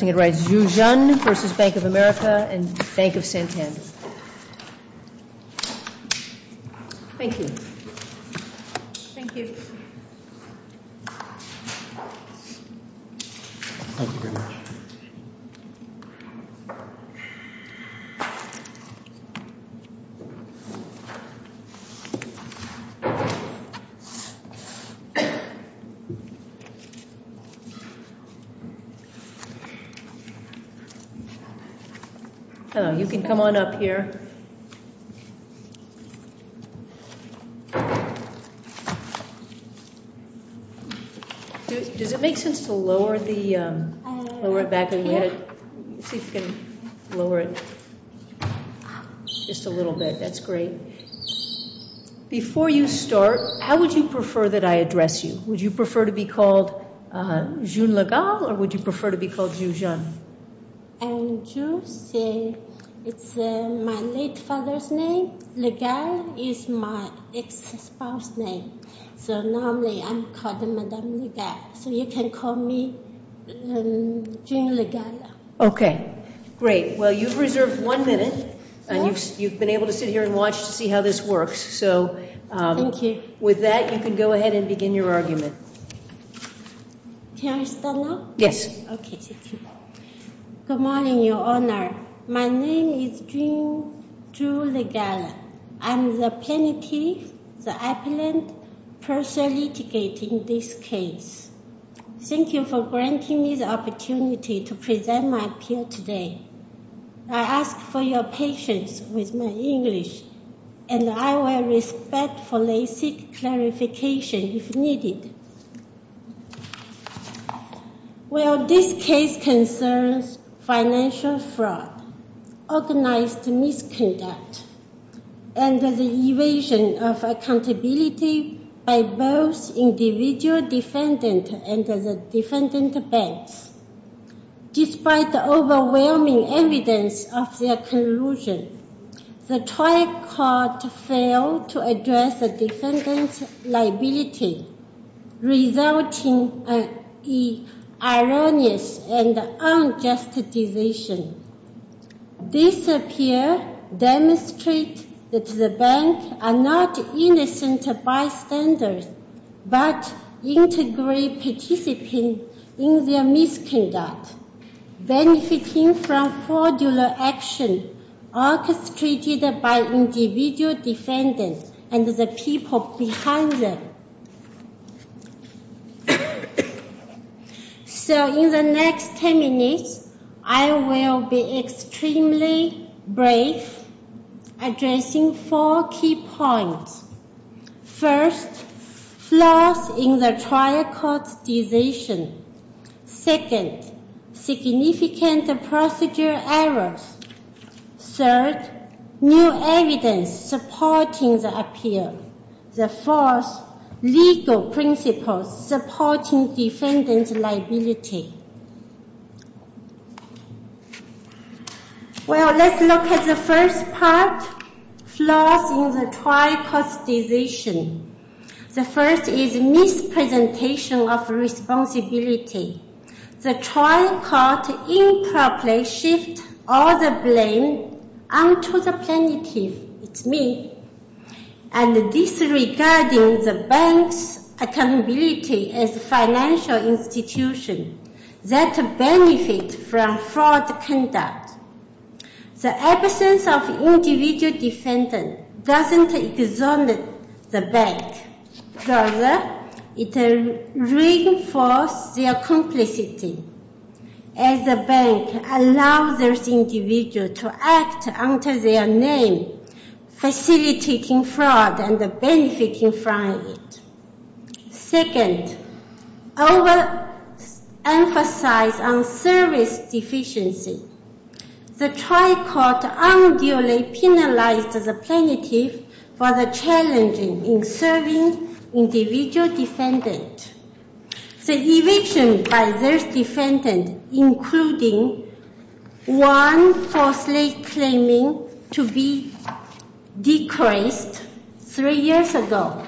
and Bank of Santander. Thank you. Thank you. Thank you very much. Hello. You can come on up here. Does it make sense to lower the, lower it back a little? See if you can lower it just a little bit. That's great. Before you start, how would you prefer that I address you? Would you prefer to be called June Le Gall or would you prefer to be called Ju Jeon? It's my late father's name. Le Gall is my ex-spouse's name. So normally I'm called Madame Le Gall. So you can call me June Le Gall. Okay. Great. Well, you've reserved one minute and you've been able to sit here and watch to see how this works. Thank you. So with that, you can go ahead and begin your argument. Can I start now? Yes. Okay. Thank you. Good morning, Your Honor. My name is June Le Gall. I'm the plaintiff, the appellant, personally litigating this case. Thank you for granting me the opportunity to present my appeal today. I ask for your patience with my English and I will respectfully seek clarification if needed. Well, this case concerns financial fraud, organized misconduct, and the evasion of accountability by both individual defendant and the defendant's banks. Despite the overwhelming evidence of their collusion, the trial court failed to address the defendant's liability, resulting in an erroneous and unjust decision. This appeal demonstrated that the bank are not innocent bystanders but integrate participants in their misconduct, benefiting from fraudulent action orchestrated by individual defendants and the people behind them. So in the next 10 minutes, I will be extremely brave, addressing four key points. First, flaws in the trial court's decision. Second, significant procedure errors. Third, new evidence supporting the appeal. The fourth, legal principles supporting defendant's liability. Well, let's look at the first part, flaws in the trial court's decision. The first is mispresentation of responsibility. The trial court improperly shifts all the blame onto the plaintiff, it's me, and disregarding the bank's accountability as a financial institution that benefits from fraud conduct. The absence of individual defendant doesn't exonerate the bank. Rather, it reinforces their complicity as the bank allows this individual to act under their name, facilitating fraud and benefiting from it. Second, overemphasize on service deficiency. The trial court unduly penalized the plaintiff for the challenging in serving individual defendant. The eviction by this defendant, including one falsely claiming to be decreased three years ago,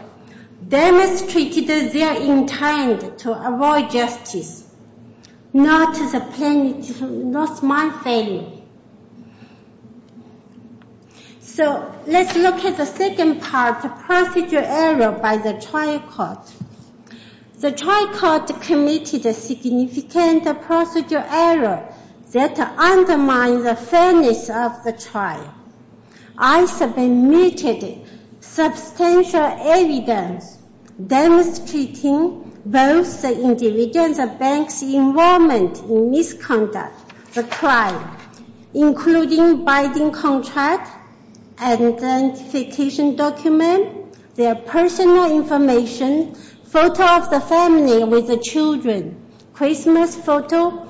demonstrated their intent to avoid justice, not my failing. So let's look at the second part, the procedure error by the trial court. The trial court committed a significant procedure error that undermined the fairness of the trial. I submitted substantial evidence demonstrating both the individual and the bank's involvement in misconduct, the trial, including binding contract, identification document, their personal information, photo of the family with the children, Christmas photo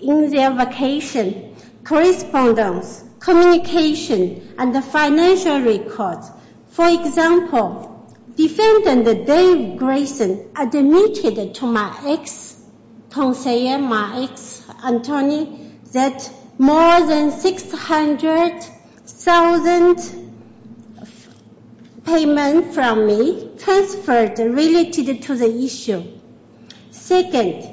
in their vacation, correspondence, communication, and the financial records. For example, defendant Dave Grayson admitted to my ex-counselor, my ex-counselor, that more than $600,000 payment from me transferred related to the issue. Second,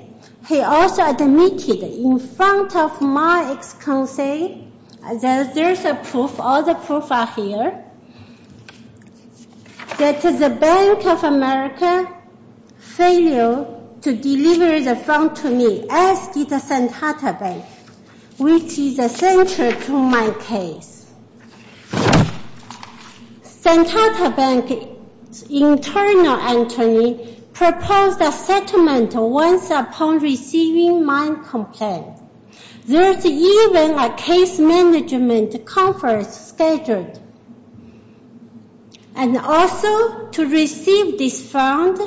he also admitted in front of my ex-counselor that there's a proof, all the proof are here, that the Bank of America failed to deliver the phone to me, as did the Santata Bank, which is essential to my case. Santata Bank's internal attorney proposed a settlement once upon receiving my complaint. There's even a case management conference scheduled. And also, to receive this fund,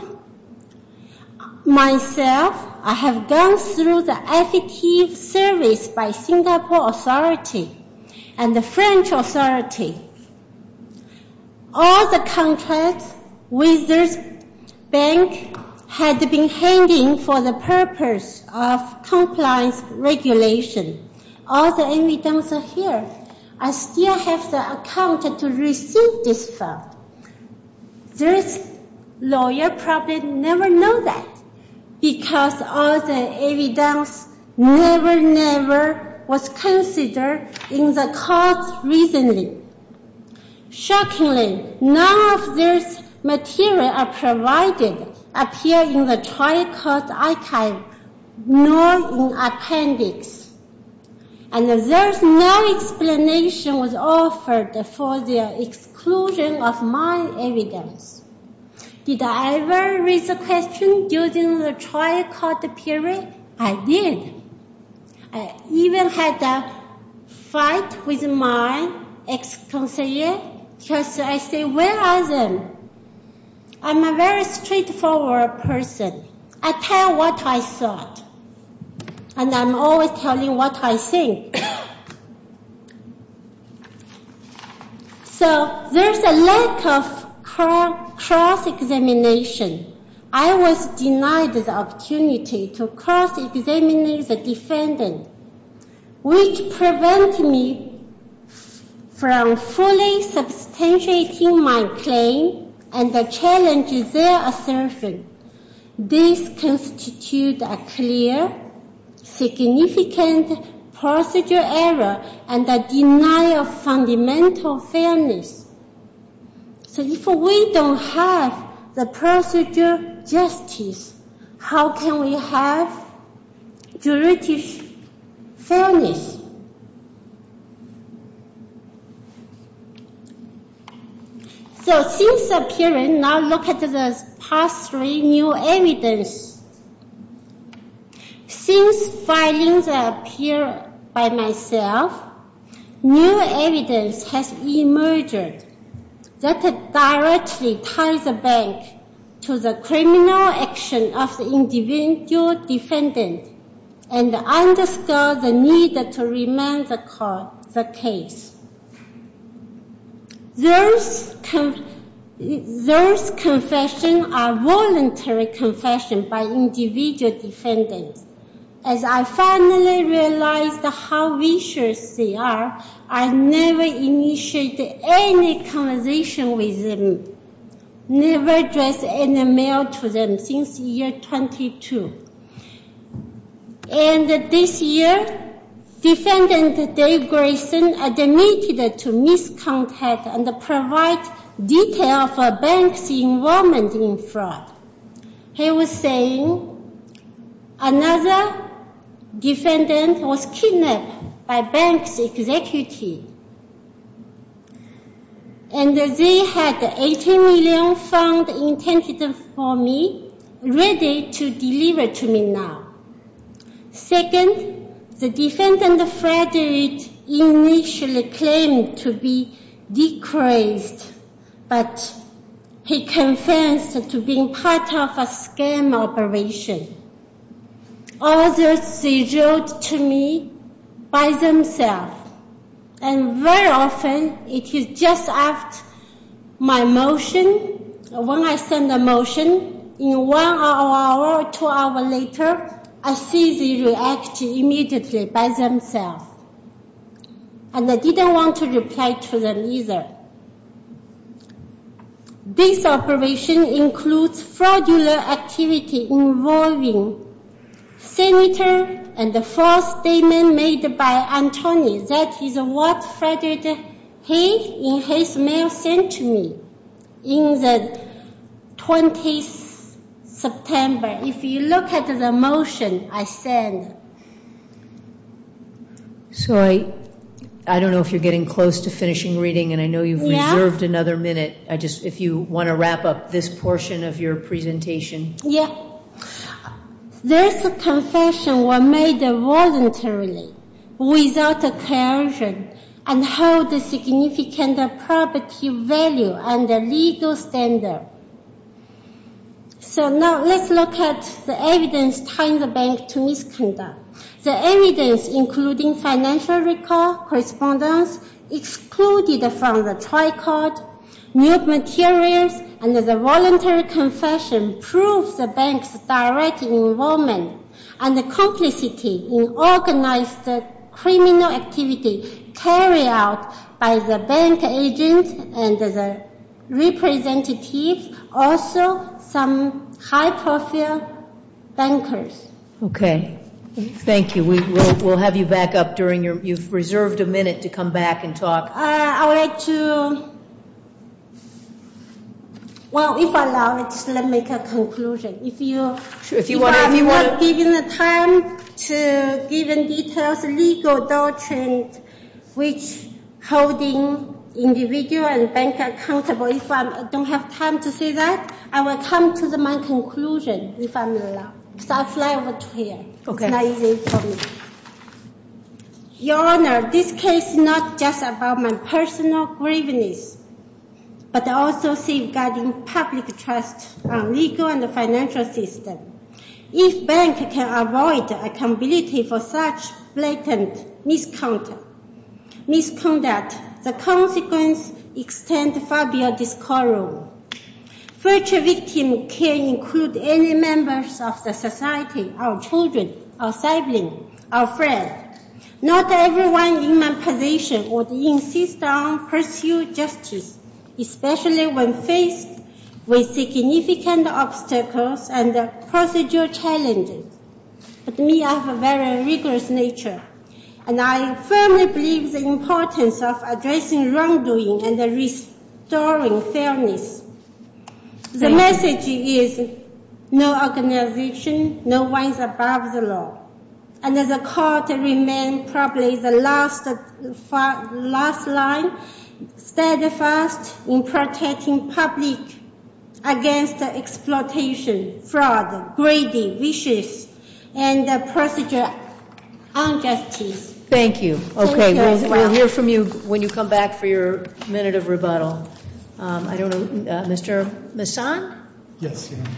myself, I have gone through the affidavit service by Singapore Authority and the French Authority. All the evidence are here. I still have the account to receive this fund. This lawyer probably never know that, because all the evidence never, never was considered in the court recently. Shockingly, none of this material I provided appear in the trial court archive, nor in the appendix. And there's no explanation was offered for the exclusion of my evidence. Did I ever raise a question during the trial court period? I did. I even had a fight with my ex-counselor, because I say, where are them? I'm a very straightforward person. I tell what I thought, and I'm always telling what I think. So, there's a lack of cross-examination. I was denied the opportunity to cross-examine the defendant, which prevented me from fully substantiating my claim and the challenges there are serving. This constitutes a clear, significant procedural error and a denial of fundamental fairness. So, if we don't have the procedural justice, how can we have juridical fairness? So, since appearing, now look at the past three new evidence. Since findings appear by myself, new evidence has emerged that directly ties the bank to the final action of the individual defendant and underscore the need to remain the case. Those confessions are voluntary confessions by individual defendants. As I finally realized how vicious they are, I never initiated any conversation with them, never addressed any mail to them since year 22. And this year, defendant Dave Grayson admitted to misconduct and provide detail of a bank's involvement in fraud. He was saying another defendant was kidnapped by bank's executive. And they had 18 million found intended for me, ready to deliver to me now. Second, the defendant, Frederick, initially claimed to be declared, but he confessed to being part of a scam operation. Others, they wrote to me by themselves. And very often, it is just after my motion, when I send a motion, in one hour or two hours later, I see they react immediately by themselves. And I didn't want to reply to them either. This operation includes fraudulent activity involving senator and the false statement made by the motion I sent. So I don't know if you're getting close to finishing reading, and I know you've reserved another minute. If you want to wrap up this portion of your presentation. This confession was made voluntarily without coercion and held significant property value and a legal standard. So now let's look at the evidence tying the bank to misconduct. The evidence, including financial record correspondence excluded from the tricot, nude materials, and the voluntary confession proves the bank's direct involvement and the complicity in organized criminal activity carried out by the bank agent and the representative, also some high-profile bankers. Okay. Thank you. We'll have you back up during your, you've reserved a minute to come back and talk. I would like to, well, if allowed, just let me make a conclusion. If I'm not given the time to give details, legal doctrine, which holding individual and bank accountable, if I don't have time to say that, I will come to my conclusion if I'm allowed. So I'll fly over to here. It's not easy for me. Your Honor, this case is not just about my personal grievance, but also safeguarding public trust on legal and the financial system. If bank can avoid accountability for such blatant misconduct, the consequence extends far beyond this courtroom. Such a victim can include any members of the society, our children, our siblings, our friends. Not everyone in my position would insist on pursuing justice, especially when faced with significant obstacles and procedural challenges. But me, I have a very rigorous nature. And I firmly believe the importance of addressing wrongdoing and restoring fairness. The message is no organization, no one is above the law. And the court remain probably the last line steadfast in protecting public against exploitation, fraud, greedy, vicious, and procedural injustice. Thank you. Thank you as well. Okay, we'll hear from you when you come back for your minute of rebuttal. I don't know, Mr. Messon? Yes, Your Honor.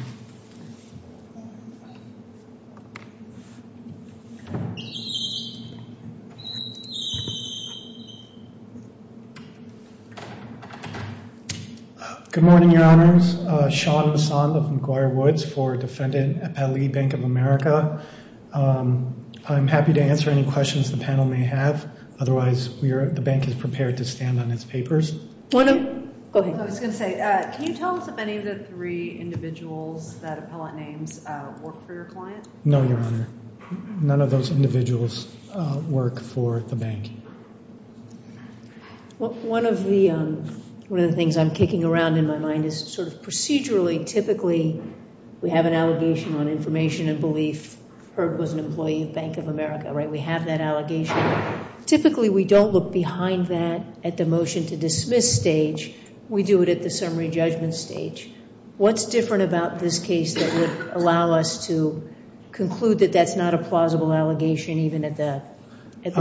Good morning, Your Honors. Sean Messon of McGuire Woods for defendant at Pelley Bank of America. I'm happy to answer any questions the panel may have. Otherwise, the bank is prepared to stand on its papers. I was going to say, can you tell us if any of the three individuals that appellate names work for your client? No, Your Honor. None of those individuals work for the bank. One of the things I'm kicking around in my mind is sort of procedurally, typically we have an allegation on information and belief. Herb was an employee of Bank of America, right? We have that allegation. Typically, we don't look behind that at the motion to dismiss stage. We do it at the summary judgment stage. What's different about this case that would allow us to conclude that that's not a plausible allegation even at the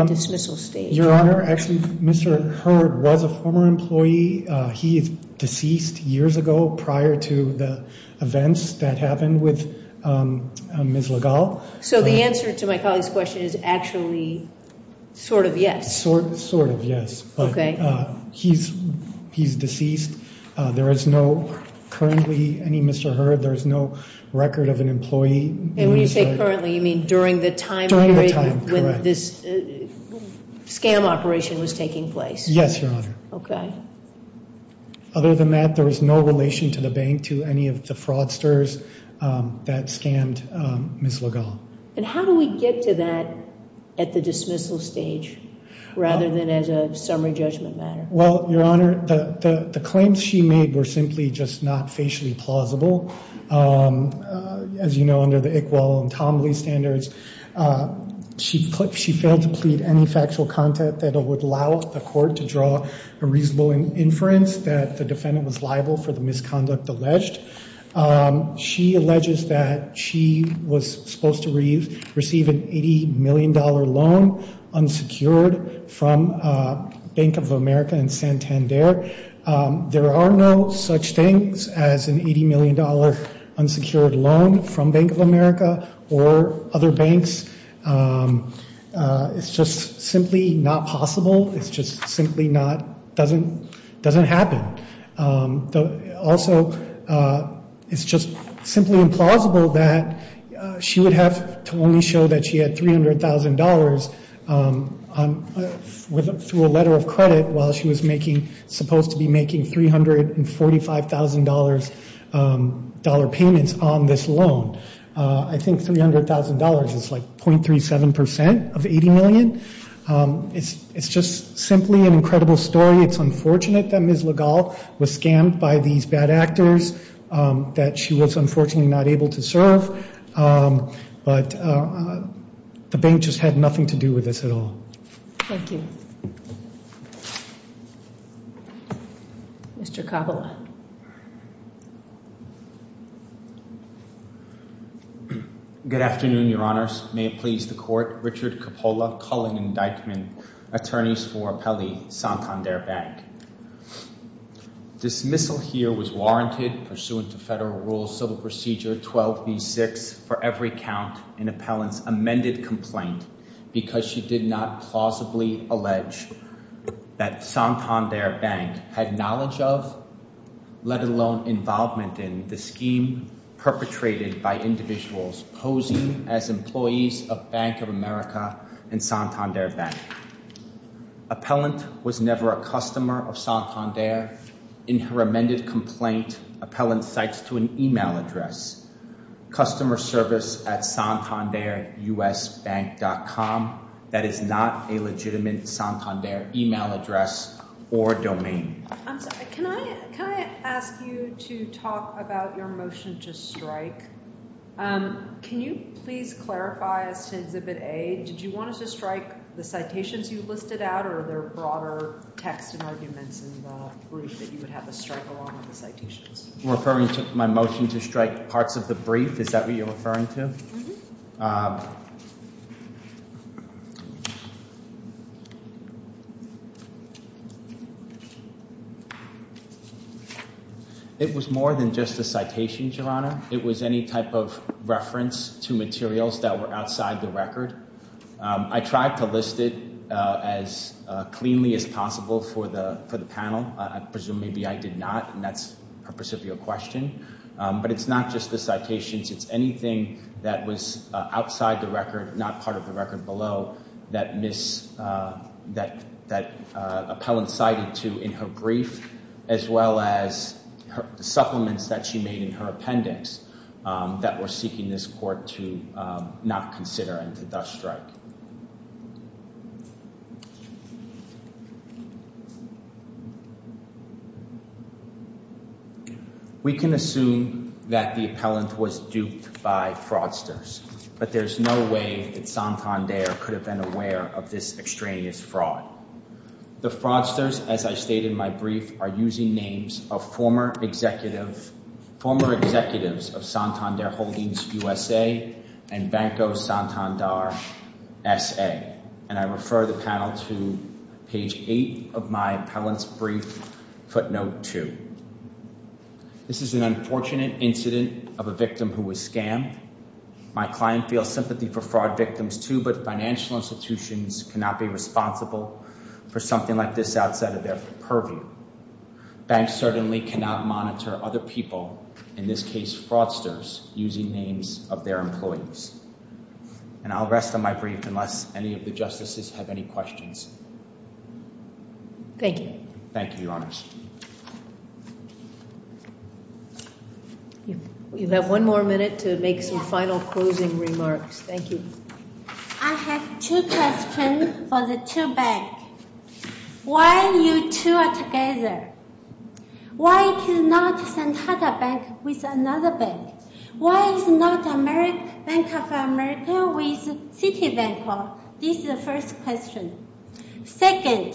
dismissal stage? Your Honor, actually Mr. Herb was a former employee. He is deceased years ago prior to the events that happened with Ms. LaGalle. So the answer to my colleague's question is actually sort of yes? Sort of yes. But he's deceased. There is no currently any Mr. Herb. There is no record of an employee. And when you say currently, you mean during the time period when this scam operation was taking place? Yes, Your Honor. Okay. Other than that, there is no relation to the bank to any of the fraudsters that scammed Ms. LaGalle. And how do we get to that at the dismissal stage rather than as a summary judgment matter? Well, Your Honor, the claims she made were simply just not facially plausible. As you know, under the Iqbal and Tomley standards, she failed to plead any factual content that would allow the court to draw a reasonable inference that the defendant was liable for the misconduct alleged. She alleges that she was supposed to receive an $80 million loan unsecured from Bank of America in Santander. There are no such things as an $80 million unsecured loan from Bank of America or other banks. It's just simply not possible. It's just simply not doesn't happen. Also, it's just simply implausible that she would have to only show that she had $300,000 through a letter of credit while she was supposed to be making $345,000 payments on this loan. I think $300,000 is like .37% of $80 million. It's just simply an incredible story. It's unfortunate that Ms. LaGalle was scammed by these bad actors that she was unfortunately not able to serve. But the bank just had nothing to do with this at all. Thank you. Mr. Kabbalah. Good afternoon, Your Honors. May it please the court. Richard Kabbalah, calling indictment. Attorneys for appellee Santander Bank. Dismissal here was warranted pursuant to Federal Rules Civil Procedure 12B6 for every count in appellant's amended complaint because she did not plausibly allege that Santander Bank had knowledge of, let alone involvement in, the scheme perpetrated by individuals posing as employees of Bank of America and Santander Bank. Appellant was never a customer of Santander. In her amended complaint, appellant cites to an email address, customer service at santanderusbank.com. That is not a legitimate Santander email address or domain. I'm sorry. Can I ask you to talk about your motion to strike? Can you please clarify, as to Exhibit A, did you want us to strike the citations you listed out or are there broader text and arguments in the brief that you would have us strike along with the citations? You're referring to my motion to strike parts of the brief? Is that what you're referring to? Mm-hmm. It was more than just the citations, Your Honor. It was any type of reference to materials that were outside the record. I tried to list it as cleanly as possible for the panel. I presume maybe I did not, and that's a percipial question. But it's not just the citations. It's anything that was outside the record, not part of the record below, that appellant cited to in her brief as well as supplements that she made in her appendix that we're seeking this court to not consider and to thus strike. We can assume that the appellant was duped by fraudsters, but there's no way that Santander could have been aware of this extraneous fraud. The fraudsters, as I stated in my brief, are using names of former executives of Santander Holdings USA and Banco Santander SA. And I refer the panel to page 8 of my appellant's brief footnote 2. This is an unfortunate incident of a victim who was scammed. My client feels sympathy for fraud victims too, but financial institutions cannot be responsible for something like this outside of their purview. Banks certainly cannot monitor other people, in this case fraudsters, using names of their employees. And I'll rest on my brief unless any of the justices have any questions. Thank you. Thank you, Your Honors. You have one more minute to make some final closing remarks. Thank you. I have two questions for the two banks. Why you two are together? Why it is not Santander Bank with another bank? Why it is not Bank of America with Citibank? This is the first question. Second,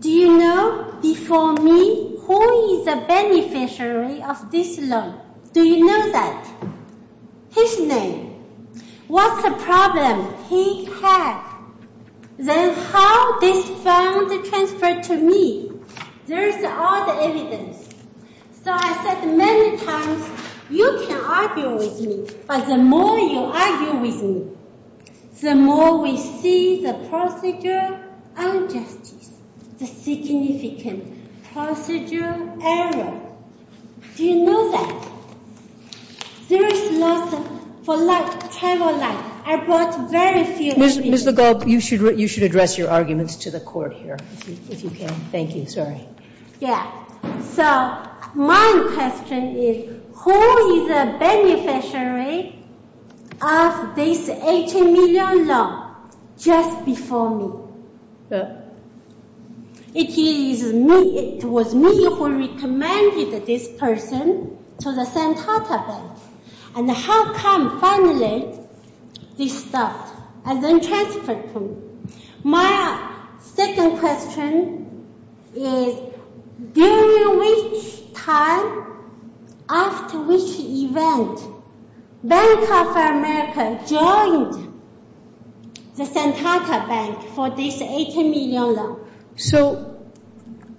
do you know before me who is the beneficiary of this loan? Do you know that? His name. What's the problem he had? Then how this fund transferred to me? There is all the evidence. So I said many times you can argue with me, but the more you argue with me, the more we see the procedural injustice, the significant procedural error. Do you know that? There is nothing for like travel light. I brought very few. Ms. LeGault, you should address your arguments to the court here if you can. Thank you. Sorry. So my question is who is the beneficiary of this $18 million loan just before me? It was me who recommended this person to the Santander Bank. And how come finally this stuff has been transferred to me? My second question is during which time, after which event, Bank of America joined the Santander Bank for this $18 million loan? So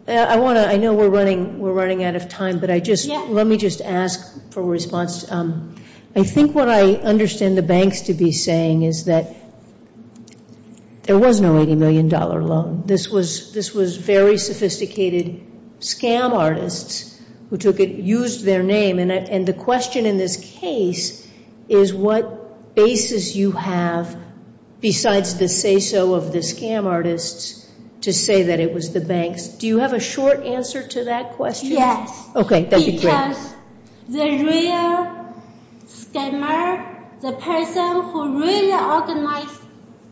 I know we're running out of time, but let me just ask for a response. I think what I understand the banks to be saying is that there was no $18 million loan. This was very sophisticated scam artists who used their name. And the question in this case is what basis you have besides the say-so of the scam artists to say that it was the banks. Do you have a short answer to that question? Yes. Okay. That would be great. Because the real scammer, the person who really organized,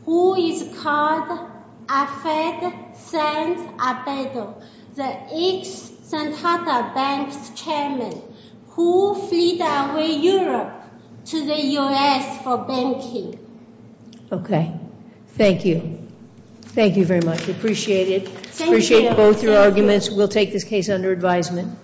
who is called Afed San Abedo, the ex-Santander Bank's chairman, who fled away Europe to the U.S. for banking. Okay. Thank you. Thank you very much. Appreciate it. Appreciate both your arguments. We'll take this case under advisement.